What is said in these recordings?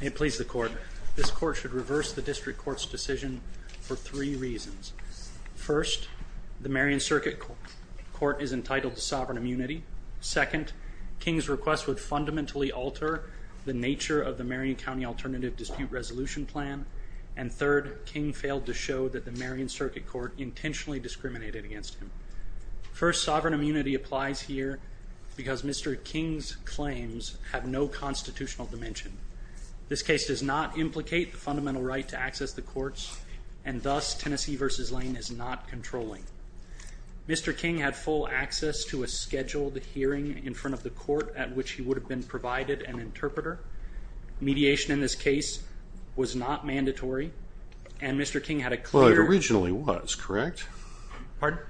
May it please the court, this court should reverse the district court's decision for three reasons. First, the Marion Circuit Court is entitled to sovereign immunity. Second, King's request would fundamentally alter the nature of the Marion County Alternative Dispute Resolution Plan. And third, King failed to show that the Marion Circuit Court intentionally discriminated against him. First, sovereign immunity applies here because Mr. King's claims have no constitutional dimension. This case does not implicate the fundamental right to access the courts, and thus Tennessee v. Lane is not controlling. Mr. King had full access to a scheduled hearing in front of the court at which he would have been provided an interpreter. Mediation in this case was not mandatory, and Mr. King had a clear... Well, it originally was, correct? Pardon?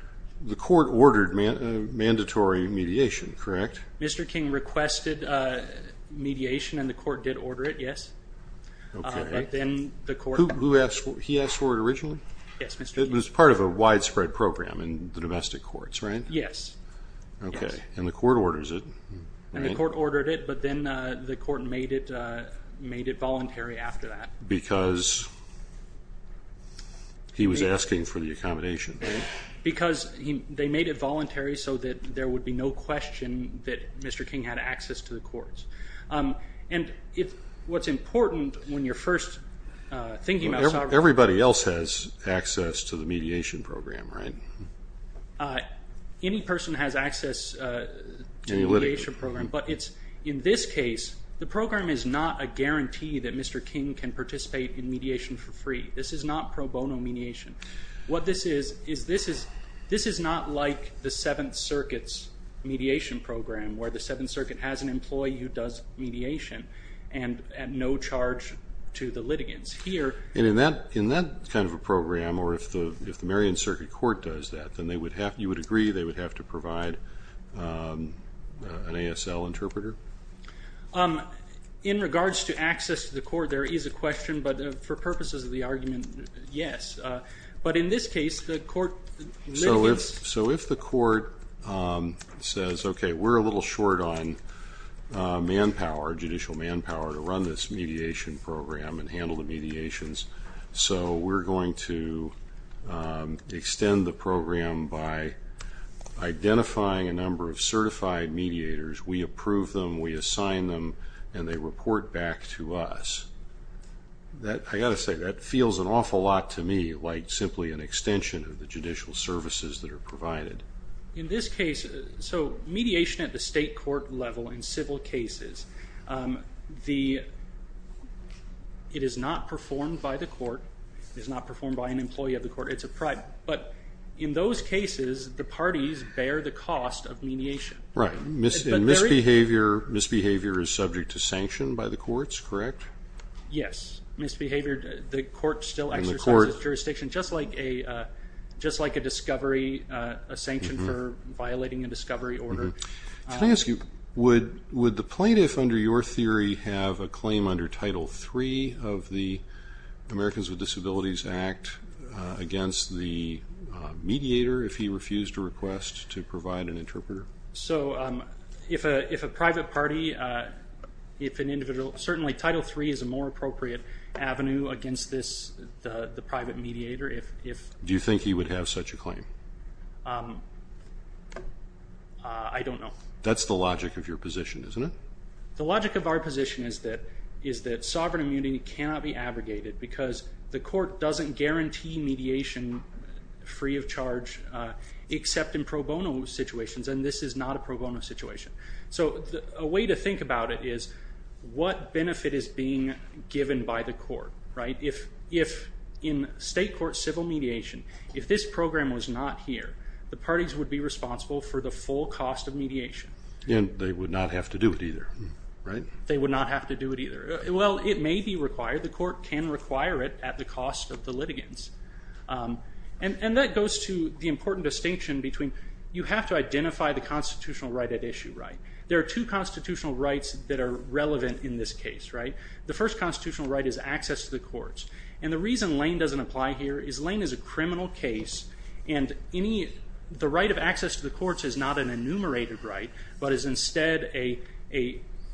The court ordered mandatory mediation, correct? Mr. King requested mediation, and the court did order it, yes. Okay. But then the court... Who asked for it? He asked for it originally? Yes, Mr. King. It was part of a widespread program in the domestic courts, right? Yes. Okay, and the court orders it. And the court ordered it, but then the court made it voluntary after that. Because he was asking for the accommodation, right? Because they made it voluntary so that there would be no question that Mr. King had access to the courts. And what's important when you're first thinking about sovereign immunity... Everybody else has access to the mediation program, right? Any person has access to the mediation program. Any litigation. In this case, the program is not a guarantee that Mr. King can participate in mediation for free. This is not pro bono mediation. What this is is this is not like the Seventh Circuit's mediation program, where the Seventh Circuit has an employee who does mediation at no charge to the litigants. And in that kind of a program, or if the Marion Circuit Court does that, then you would agree they would have to provide an ASL interpreter? In regards to access to the court, there is a question, but for purposes of the argument, yes. But in this case, the court litigates. So if the court says, okay, we're a little short on manpower, judicial manpower, to run this mediation program and handle the mediations, so we're going to extend the program by identifying a number of certified mediators. We approve them, we assign them, and they report back to us. I've got to say, that feels an awful lot to me, like simply an extension of the judicial services that are provided. In this case, so mediation at the state court level in civil cases, it is not performed by the court. It is not performed by an employee of the court. It's a private. But in those cases, the parties bear the cost of mediation. Right. And misbehavior is subject to sanction by the courts, correct? Yes. Misbehavior, the court still exercises jurisdiction, just like a discovery, a sanction for violating a discovery order. Can I ask you, would the plaintiff under your theory have a claim under Title III of the Americans with Disabilities Act against the mediator if he refused a request to provide an interpreter? So if a private party, if an individual, certainly Title III is a more appropriate avenue against the private mediator. Do you think he would have such a claim? I don't know. That's the logic of your position, isn't it? The logic of our position is that sovereign immunity cannot be abrogated because the court doesn't guarantee mediation free of charge except in pro bono situations, and this is not a pro bono situation. So a way to think about it is what benefit is being given by the court, right? If in state court civil mediation, if this program was not here, the parties would be responsible for the full cost of mediation. And they would not have to do it either, right? They would not have to do it either. Well, it may be required. The court can require it at the cost of the litigants. And that goes to the important distinction between you have to identify the constitutional right at issue, right? There are two constitutional rights that are relevant in this case, right? The first constitutional right is access to the courts. And the reason Lane doesn't apply here is Lane is a criminal case, and the right of access to the courts is not an enumerated right but is instead a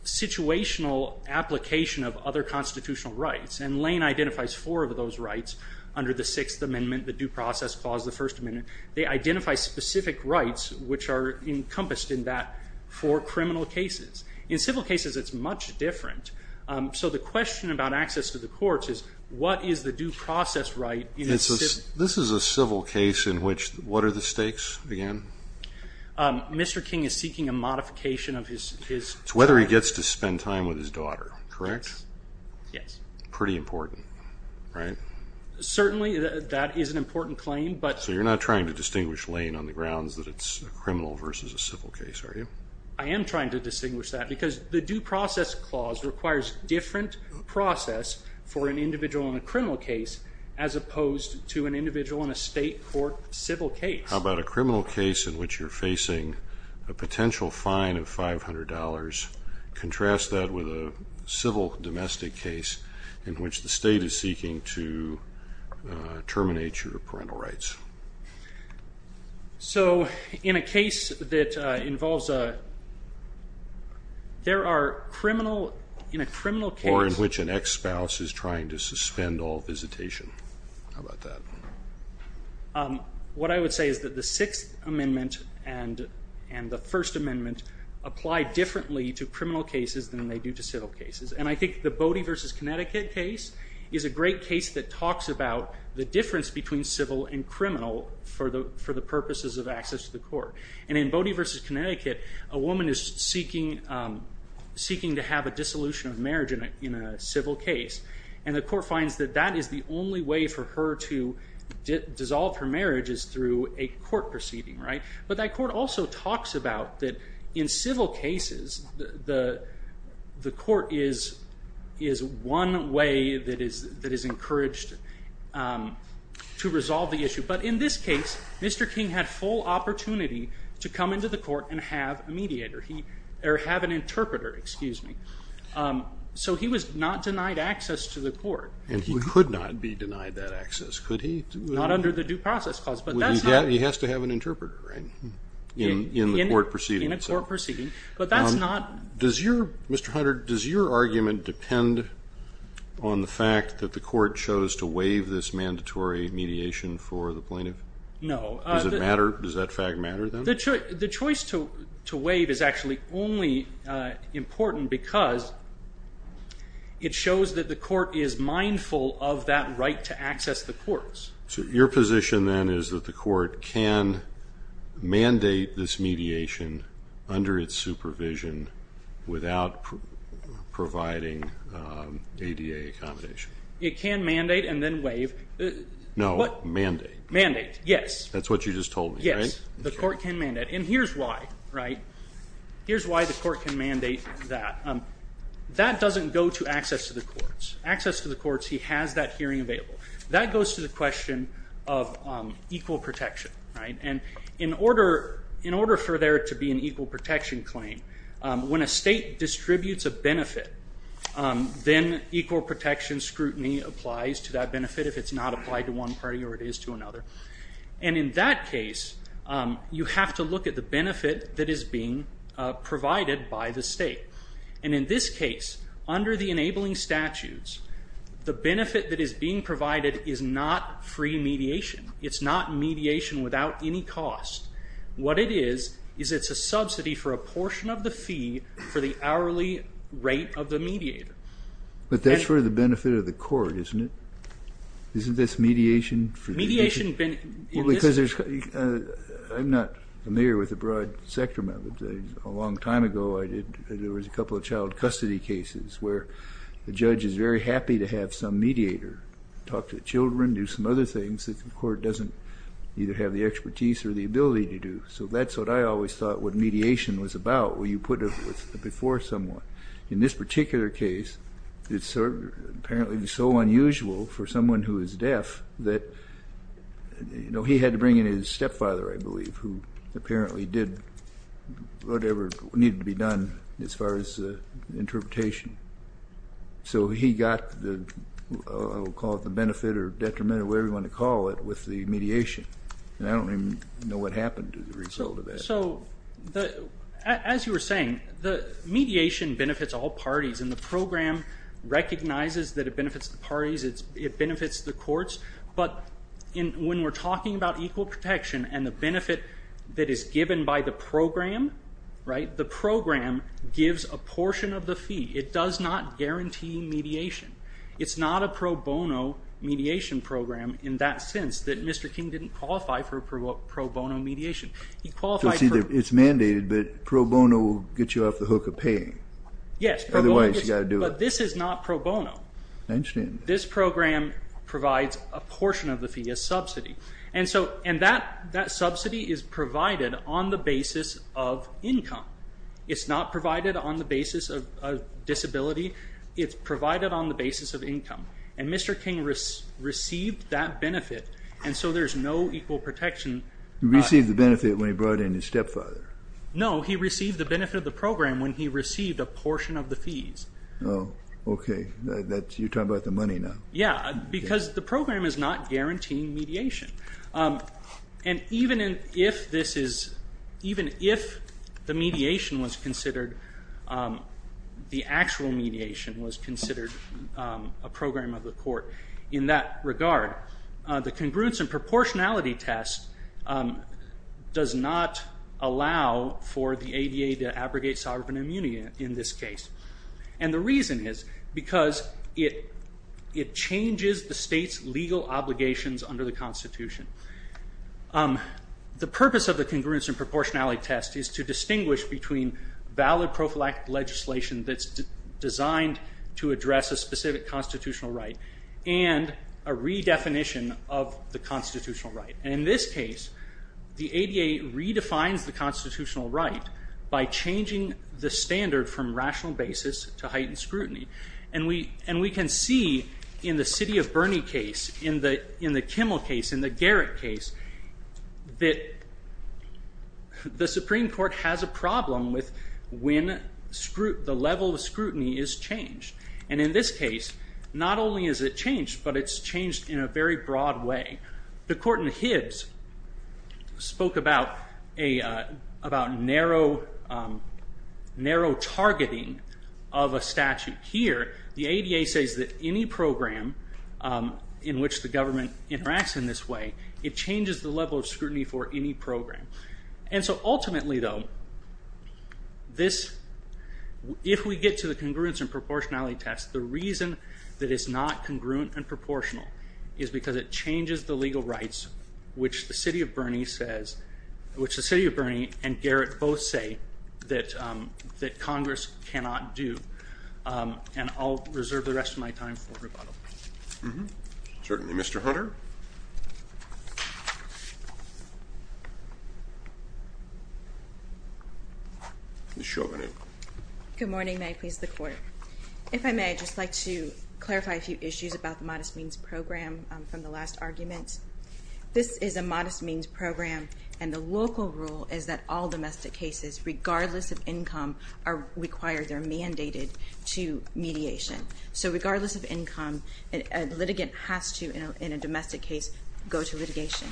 situational application of other constitutional rights. And Lane identifies four of those rights under the Sixth Amendment, the Due Process Clause, the First Amendment. They identify specific rights which are encompassed in that for criminal cases. In civil cases, it's much different. So the question about access to the courts is what is the due process right? This is a civil case in which what are the stakes again? Mr. King is seeking a modification of his term. It's whether he gets to spend time with his daughter, correct? Yes. Pretty important, right? Certainly, that is an important claim. So you're not trying to distinguish Lane on the grounds that it's a criminal versus a civil case, are you? I am trying to distinguish that because the Due Process Clause requires different process for an individual in a criminal case as opposed to an individual in a state court civil case. How about a criminal case in which you're facing a potential fine of $500? Contrast that with a civil domestic case in which the state is seeking to terminate your parental rights. So in a case that involves a... There are criminal, in a criminal case... Or in which an ex-spouse is trying to suspend all visitation. How about that? What I would say is that the Sixth Amendment and the First Amendment apply differently to criminal cases than they do to civil cases. And I think the Bodie v. Connecticut case is a great case that talks about the difference between civil and criminal for the purposes of access to the court. And in Bodie v. Connecticut, a woman is seeking to have a dissolution of marriage in a civil case. And the court finds that that is the only way for her to dissolve her marriage, is through a court proceeding, right? But that court also talks about that in civil cases, the court is one way that is encouraged to resolve the issue. But in this case, Mr. King had full opportunity to come into the court and have a mediator, or have an interpreter, excuse me. So he was not denied access to the court. And he could not be denied that access, could he? Not under the due process clause, but that's not... He has to have an interpreter, right? In a court proceeding. In a court proceeding. But that's not... Does your, Mr. Hunter, does your argument depend on the fact that the court chose to waive this mandatory mediation for the plaintiff? No. Does it matter? Does that fact matter then? The choice to waive is actually only important because it shows that the court is mindful of that right to access the courts. So your position then is that the court can mandate this mediation under its supervision without providing ADA accommodation? It can mandate and then waive. No, mandate. Mandate, yes. That's what you just told me, right? Yes, the court can mandate. And here's why, right? Here's why the court can mandate that. That doesn't go to access to the courts. Access to the courts, he has that hearing available. That goes to the question of equal protection, right? And in order for there to be an equal protection claim, when a state distributes a benefit, then equal protection scrutiny applies to that benefit if it's not applied to one party or it is to another. And in that case, you have to look at the benefit that is being provided by the state. And in this case, under the enabling statutes, the benefit that is being provided is not free mediation. It's not mediation without any cost. What it is is it's a subsidy for a portion of the fee for the hourly rate of the mediator. But that's for the benefit of the court, isn't it? Isn't this mediation? Mediation in this case. I'm not familiar with the broad sector methods. A long time ago, there was a couple of child custody cases where the judge is very happy to have some mediator talk to the children, do some other things that the court doesn't either have the expertise or the ability to do. So that's what I always thought what mediation was about, where you put it before someone. In this particular case, it's apparently so unusual for someone who is deaf that, you know, he had to bring in his stepfather, I believe, who apparently did whatever needed to be done as far as interpretation. So he got the, I will call it the benefit or detriment or whatever you want to call it, with the mediation. And I don't even know what happened to the result of that. So, as you were saying, the mediation benefits all parties and the program recognizes that it benefits the parties, it benefits the courts. But when we're talking about equal protection and the benefit that is given by the program, right, the program gives a portion of the fee. It does not guarantee mediation. It's not a pro bono mediation program in that sense that Mr. King didn't qualify for pro bono mediation. He qualified for... So, see, it's mandated, but pro bono will get you off the hook of paying. Yes. Otherwise, you got to do it. But this is not pro bono. I understand. This program provides a portion of the fee, a subsidy. And that subsidy is provided on the basis of income. It's not provided on the basis of disability. It's provided on the basis of income. And Mr. King received that benefit, and so there's no equal protection. He received the benefit when he brought in his stepfather. No, he received the benefit of the program when he received a portion of the fees. Oh, okay. You're talking about the money now. Yeah, because the program is not guaranteeing mediation. And even if this is... even if the mediation was considered... the actual mediation was considered a program of the court in that regard, the congruence and proportionality test does not allow for the ADA to abrogate sovereign immunity in this case. And the reason is because it changes the state's legal obligations under the Constitution. The purpose of the congruence and proportionality test is to distinguish between valid prophylactic legislation that's designed to address a specific constitutional right and a redefinition of the constitutional right. And in this case, the ADA redefines the constitutional right by changing the standard from rational basis to heightened scrutiny. And we can see in the City of Bernie case, in the Kimmel case, in the Garrett case, that the Supreme Court has a problem with when the level of scrutiny is changed. And in this case, not only is it changed, but it's changed in a very broad way. The court in Hibbs spoke about narrow targeting of a statute. Here, the ADA says that any program in which the government interacts in this way, it changes the level of scrutiny for any program. And so ultimately though, if we get to the congruence and proportionality test, the reason that it's not congruent and proportional is because it changes the legal rights which the City of Bernie and Garrett both say that Congress cannot do. And I'll reserve the rest of my time for rebuttal. Certainly. Mr. Hunter? Ms. Chauvin. Good morning. May I please the court? If I may, I'd just like to clarify a few issues about the modest means program from the last argument. This is a modest means program, and the local rule is that all domestic cases, regardless of income, are required, they're mandated to mediation. So regardless of income, a litigant has to, in a domestic case, go to litigation,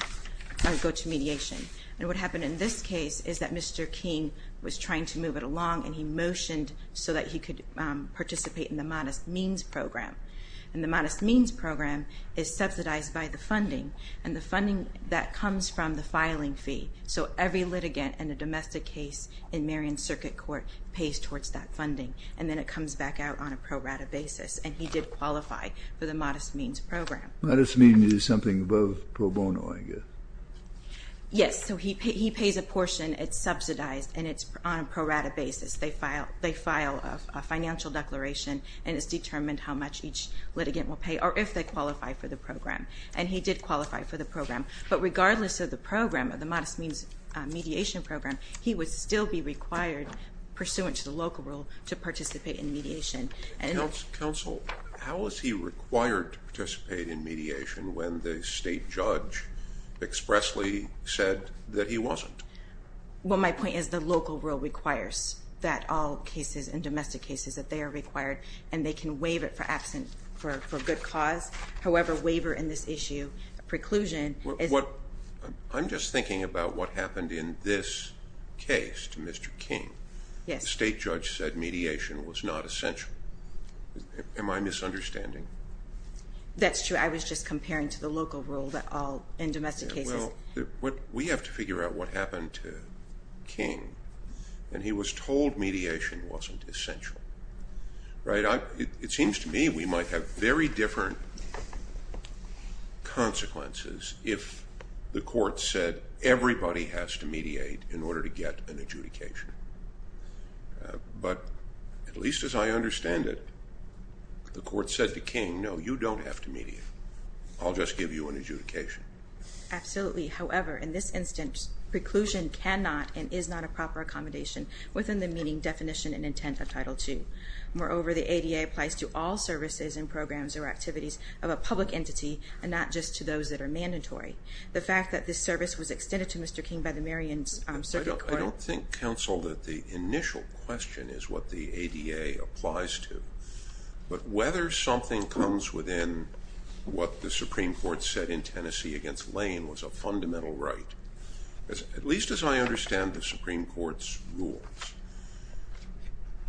or go to mediation. And what happened in this case is that Mr. King was trying to move it along, and he motioned so that he could participate in the modest means program. And the modest means program is subsidized by the funding and the funding that comes from the filing fee. So every litigant in a domestic case in Marion Circuit Court pays towards that funding, and then it comes back out on a pro rata basis. And he did qualify for the modest means program. Modest means is something above pro bono, I guess. Yes, so he pays a portion, it's subsidized, and it's on a pro rata basis. They file a financial declaration, and it's determined how much each litigant will pay, or if they qualify for the program. And he did qualify for the program. But regardless of the program, of the modest means mediation program, he would still be required, pursuant to the local rule, to participate in mediation. Counsel, how is he required to participate in mediation when the state judge expressly said that he wasn't? Well, my point is the local rule requires that all cases and domestic cases, that they are required, and they can waive it for absent, for good cause. However, waiver in this issue, preclusion is... I'm just thinking about what happened in this case to Mr. King. Yes. The state judge said mediation was not essential. Am I misunderstanding? That's true. I was just comparing to the local rule, that all in domestic cases... We have to figure out what happened to King, and he was told mediation wasn't essential. Right? It seems to me we might have very different consequences if the court said everybody has to mediate in order to get an adjudication. But at least as I understand it, the court said to King, no, you don't have to mediate. I'll just give you an adjudication. Absolutely. However, in this instance, preclusion cannot and is not a proper accommodation within the meaning, definition, and intent of Title II. Moreover, the ADA applies to all services and programs or activities of a public entity and not just to those that are mandatory. The fact that this service was extended to Mr. King by the Marion Circuit Court... I don't think, counsel, that the initial question is what the ADA applies to. But whether something comes within what the Supreme Court said in Tennessee against Lane was a fundamental right, at least as I understand the Supreme Court's rules.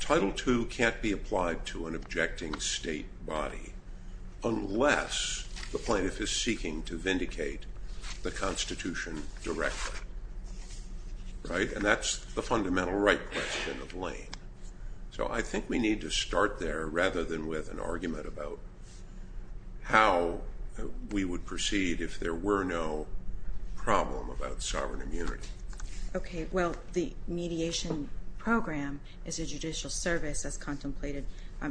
Title II can't be applied to an objecting state body unless the plaintiff is seeking to vindicate the Constitution directly, right? And that's the fundamental right question of Lane. So I think we need to start there rather than with an argument about how we would proceed if there were no problem about sovereign immunity. Okay, well, the mediation program is a judicial service as contemplated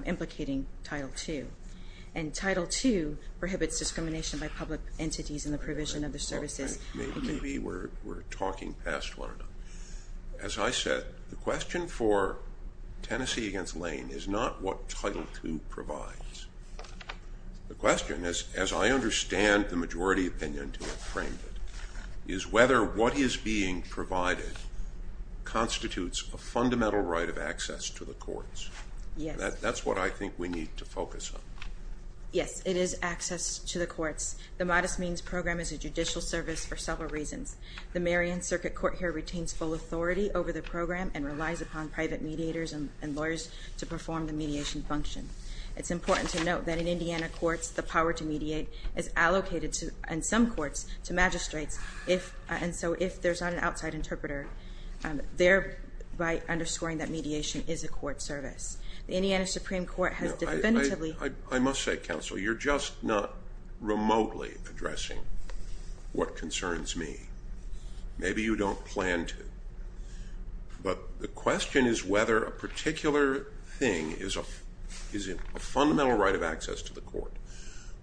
implicating Title II. And Title II prohibits discrimination by public entities in the provision of the services... Maybe we're talking past one. As I said, the question for Tennessee against Lane is not what Title II provides. The question, as I understand the majority opinion to have framed it, is whether what is being provided constitutes a fundamental right of access to the courts. That's what I think we need to focus on. Yes, it is access to the courts. The modest means program is a judicial service for several reasons. The Marion Circuit Court here retains full authority over the program and relies upon private mediators and lawyers to perform the mediation function. It's important to note that in Indiana courts, the power to mediate is allocated in some courts to magistrates, and so if there's not an outside interpreter, thereby underscoring that mediation is a court service. The Indiana Supreme Court has definitively... I must say, counsel, you're just not remotely addressing what concerns me. Maybe you don't plan to. But the question is whether a particular thing is a fundamental right of access to the court.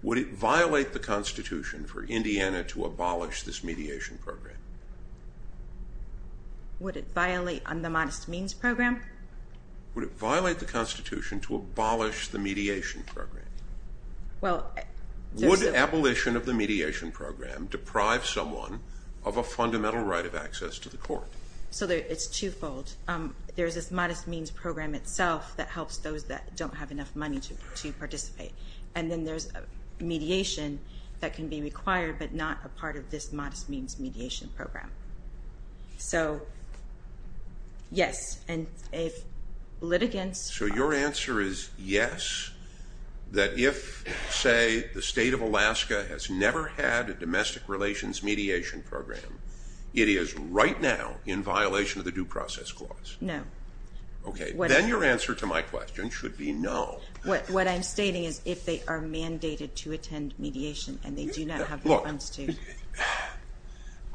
Would it violate the Constitution for Indiana to abolish this mediation program? Would it violate the modest means program? Would it violate the Constitution to abolish the mediation program? Would abolition of the mediation program deprive someone of a fundamental right of access to the court? It's twofold. There's this modest means program itself that helps those that don't have enough money to participate, and then there's mediation that can be required but not a part of this modest means mediation program. So, yes, and if litigants... So your answer is yes, that if, say, the state of Alaska has never had a domestic relations mediation program, it is right now in violation of the Due Process Clause? No. Okay, then your answer to my question should be no. What I'm stating is if they are mandated to attend mediation and they do not have the funds to.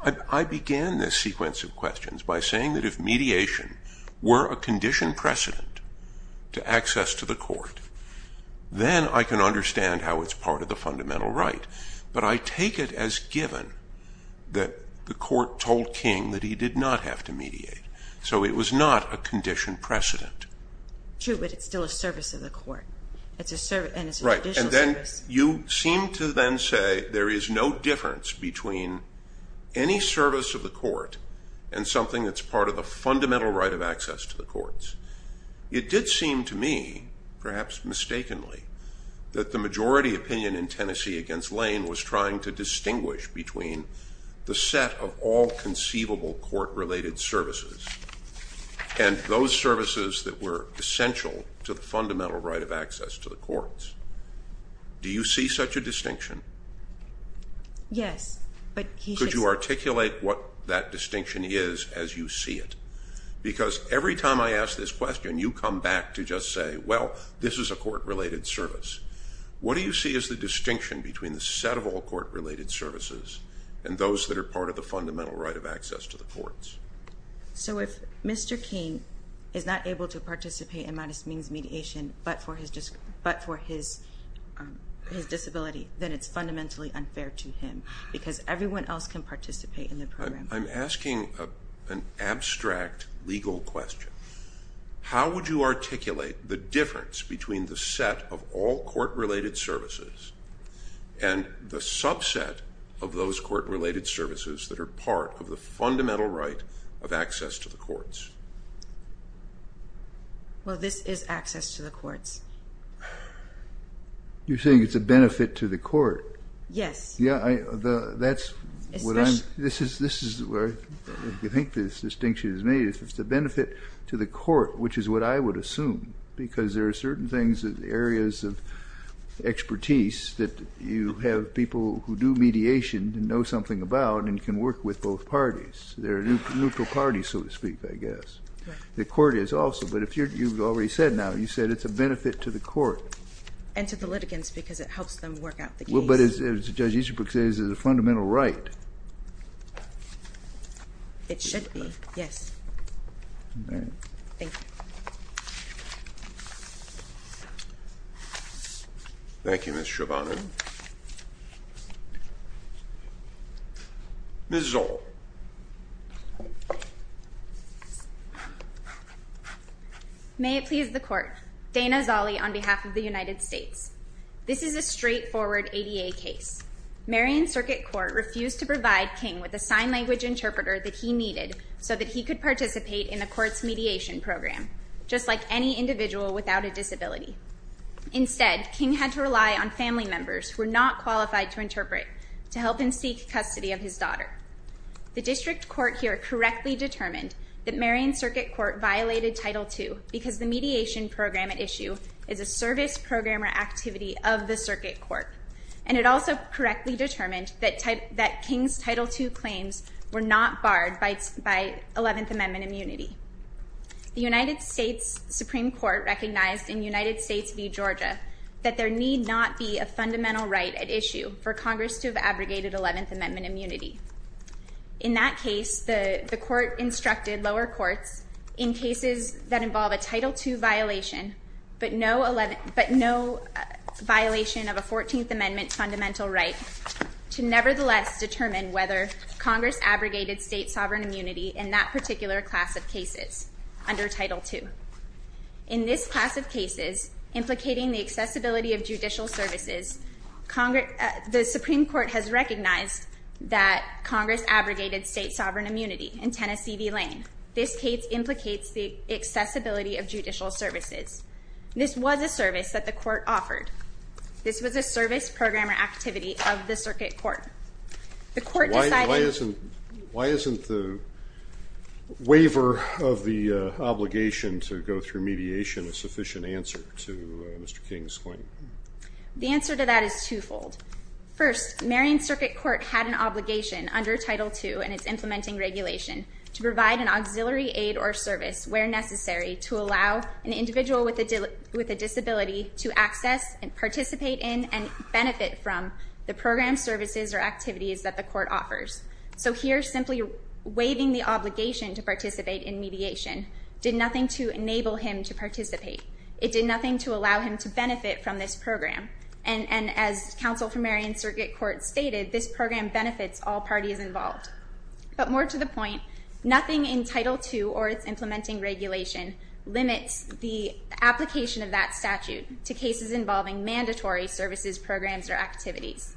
Look, I began this sequence of questions by saying that if mediation were a conditioned precedent to access to the court, then I can understand how it's part of the fundamental right. But I take it as given that the court told King that he did not have to mediate, so it was not a conditioned precedent. True, but it's still a service of the court, and it's a judicial service. Right, and then you seem to then say there is no difference between any service of the court and something that's part of the fundamental right of access to the courts. It did seem to me, perhaps mistakenly, that the majority opinion in Tennessee against Lane was trying to distinguish between the set of all conceivable court-related services and those services that were essential to the fundamental right of access to the courts. Do you see such a distinction? Yes, but he said... Could you articulate what that distinction is as you see it? Because every time I ask this question, you come back to just say, well, this is a court-related service. What do you see as the distinction between the set of all court-related services and those that are part of the fundamental right of access to the courts? So if Mr. King is not able to participate in modest means mediation but for his disability, then it's fundamentally unfair to him because everyone else can participate in the program. I'm asking an abstract legal question. How would you articulate the difference between the set of all court-related services and the subset of those court-related services that are part of the fundamental right of access to the courts? Well, this is access to the courts. You're saying it's a benefit to the court. Yes. This is where I think this distinction is made. It's a benefit to the court, which is what I would assume, because there are certain areas of expertise that you have people who do mediation and know something about and can work with both parties. They're neutral parties, so to speak, I guess. The court is also, but you've already said now, you said it's a benefit to the court. And to the litigants because it helps them work out the case. Well, but as Judge Easterbrook says, it's a fundamental right. It should be, yes. Thank you. Thank you, Ms. Schovanec. Ms. Zoll. May it please the court. Dana Zolle on behalf of the United States. This is a straightforward ADA case. Marion Circuit Court refused to provide King with a sign language interpreter that he needed so that he could participate in the court's mediation program, just like any individual without a disability. Instead, King had to rely on family members who were not qualified to interpret to help him seek custody of his daughter. The district court here correctly determined that Marion Circuit Court violated Title II because the mediation program at issue is a service programmer activity of the circuit court. And it also correctly determined that King's Title II claims were not barred by 11th Amendment immunity. The United States Supreme Court recognized in United States v. Georgia that there need not be a fundamental right at issue for Congress to have abrogated 11th Amendment immunity. In that case, the court instructed lower courts in cases that involve a Title II violation but no violation of a 14th Amendment fundamental right to nevertheless determine whether Congress abrogated state sovereign immunity in that particular class of cases under Title II. In this class of cases, implicating the accessibility of judicial services, the Supreme Court has recognized that Congress abrogated state sovereign immunity in Tennessee v. Lane. This case implicates the accessibility of judicial services. This was a service that the court offered. This was a service programmer activity of the circuit court. Why isn't the waiver of the obligation to go through mediation a sufficient answer to Mr. King's claim? The answer to that is twofold. First, Marion Circuit Court had an obligation under Title II and its implementing regulation to provide an auxiliary aid or service where necessary to allow an individual with a disability to access and participate in and benefit from the program services or activities that the court offers. So here, simply waiving the obligation to participate in mediation did nothing to enable him to participate. It did nothing to allow him to benefit from this program. And as Counsel for Marion Circuit Court stated, this program benefits all parties involved. But more to the point, nothing in Title II or its implementing regulation limits the application of that statute to cases involving mandatory services, programs, or activities.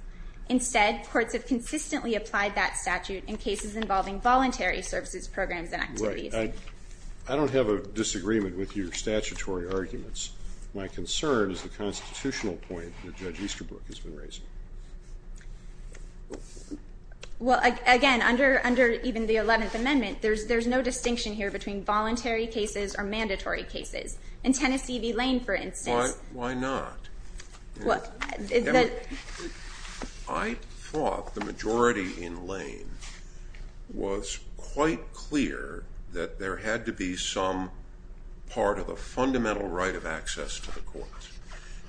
Instead, courts have consistently applied that statute in cases involving voluntary services, programs, and activities. Right. I don't have a disagreement with your statutory arguments. My concern is the constitutional point that Judge Easterbrook has been raising. Well, again, under even the Eleventh Amendment, there's no distinction here between voluntary cases or mandatory cases. In Tennessee v. Lane, for instance. Why not? I thought the majority in Lane was quite clear that there had to be some part of a fundamental right of access to the courts.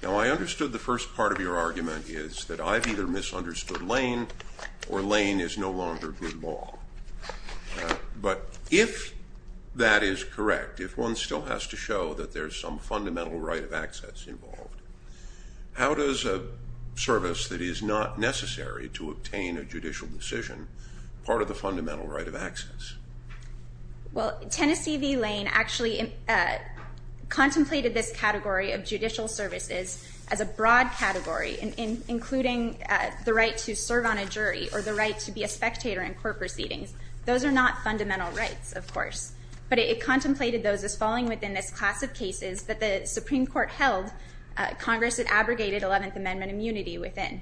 Now, I understood the first part of your argument is that I've either misunderstood Lane or Lane is no longer good law. But if that is correct, if one still has to show that there's some fundamental right of access involved, how does a service that is not necessary to obtain a judicial decision part of the fundamental right of access? Well, Tennessee v. Lane actually contemplated this category of judicial services as a broad category, including the right to serve on a jury or the right to be a spectator in court proceedings. Those are not fundamental rights, of course. But it contemplated those as falling within this class of cases that the Supreme Court held Congress had abrogated Eleventh Amendment immunity within.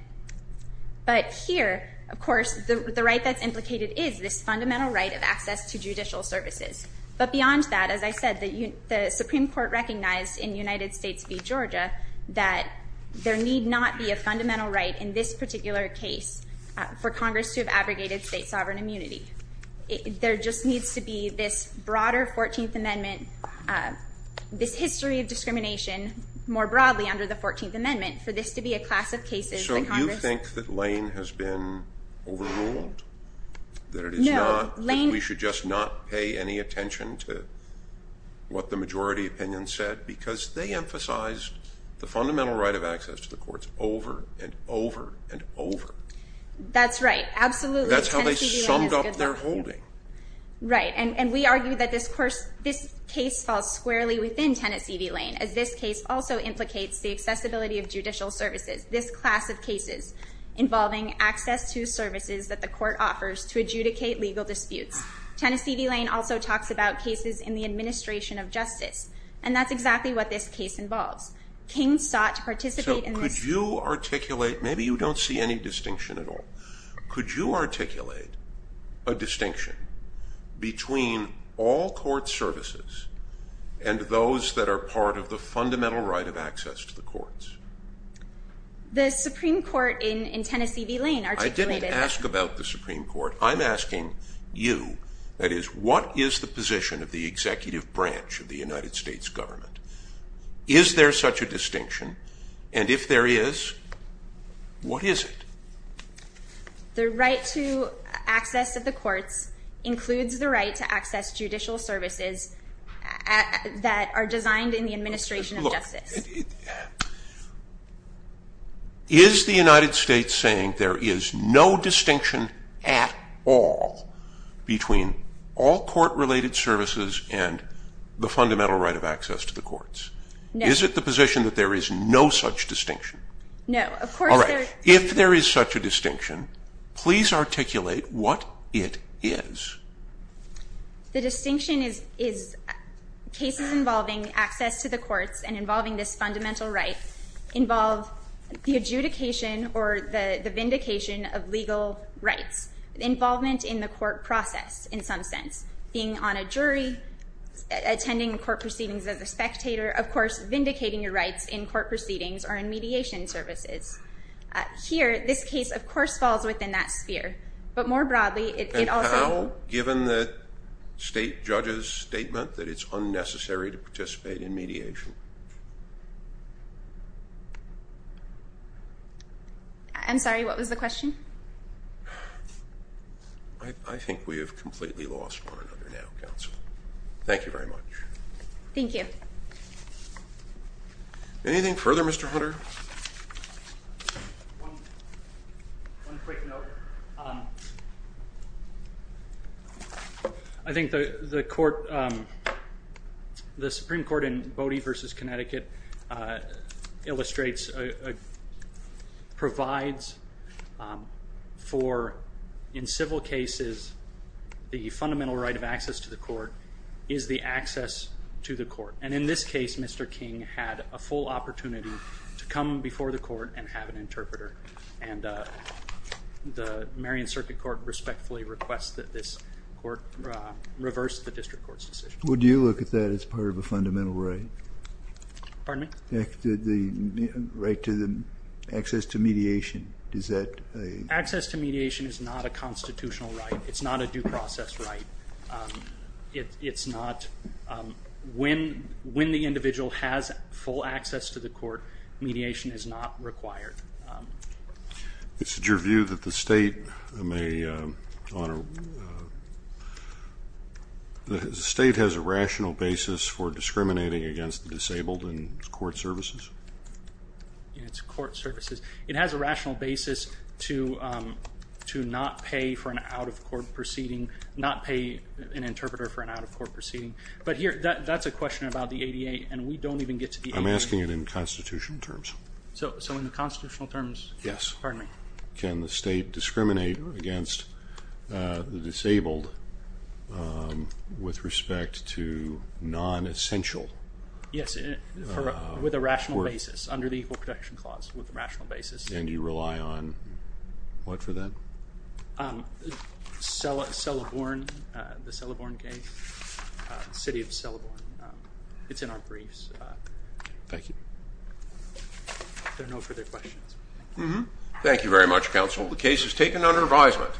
But here, of course, the right that's implicated is this fundamental right of access to judicial services. But beyond that, as I said, the Supreme Court recognized in United States v. Georgia that there need not be a fundamental right in this particular case for Congress to have abrogated state sovereign immunity. There just needs to be this broader Fourteenth Amendment, this history of discrimination more broadly under the Fourteenth Amendment for this to be a class of cases that Congress... So you think that Lane has been overruled? No, Lane... That we should just not pay any attention to what the majority opinion said because they emphasized the fundamental right of access to the courts over and over and over. That's right, absolutely. That's how they summed up their holding. Right, and we argue that this case falls squarely within Tennessee v. Lane as this case also implicates the accessibility of judicial services, this class of cases involving access to services that the court offers to adjudicate legal disputes. And that's exactly what this case involves. King sought to participate in this... So could you articulate... Maybe you don't see any distinction at all. Could you articulate a distinction between all court services and those that are part of the fundamental right of access to the courts? The Supreme Court in Tennessee v. Lane articulated... I didn't ask about the Supreme Court. I'm asking you, that is, what is the position of the executive branch of the United States government? Is there such a distinction? And if there is, what is it? The right to access of the courts includes the right to access judicial services that are designed in the administration of justice. Is the United States saying there is no distinction at all between all court-related services and the fundamental right of access to the courts? No. Is it the position that there is no such distinction? No. All right. If there is such a distinction, please articulate what it is. The distinction is... Cases involving access to the courts and involving this fundamental right involve the adjudication or the vindication of legal rights. Involvement in the court process, in some sense. Being on a jury, attending court proceedings as a spectator, of course, vindicating your rights in court proceedings or in mediation services. Here, this case, of course, falls within that sphere. But more broadly, it also... And how, given the state judge's statement, that it's unnecessary to participate in mediation? I'm sorry, what was the question? I think we have completely lost one another now, counsel. Thank you very much. Thank you. Anything further, Mr. Hunter? One quick note. I think the Supreme Court in Bodie v. Connecticut illustrates, provides for, in civil cases, the fundamental right of access to the court is the access to the court. And in this case, Mr. King had a full opportunity to come before the court and have an interpreter. And the Marion Circuit Court respectfully requests that this court reverse the district court's decision. Well, do you look at that as part of a fundamental right? Pardon me? The right to access to mediation. Access to mediation is not a constitutional right. It's not a due process right. It's not, when the individual has full access to the court, mediation is not required. Is it your view that the state has a rational basis for discriminating against the disabled in its court services? It has a rational basis to not pay for an out-of-court proceeding, not pay an interpreter for an out-of-court proceeding. But here, that's a question about the ADA, and we don't even get to the ADA. I'm asking it in constitutional terms. So in the constitutional terms? Yes. Pardon me. Can the state discriminate against the disabled with respect to non-essential? Yes, with a rational basis, under the Equal Protection Clause, with a rational basis. And you rely on what for that? Celeborn, the Celeborn case, the city of Celeborn. It's in our briefs. Thank you. There are no further questions. Thank you very much, counsel. The case is taken under advisement.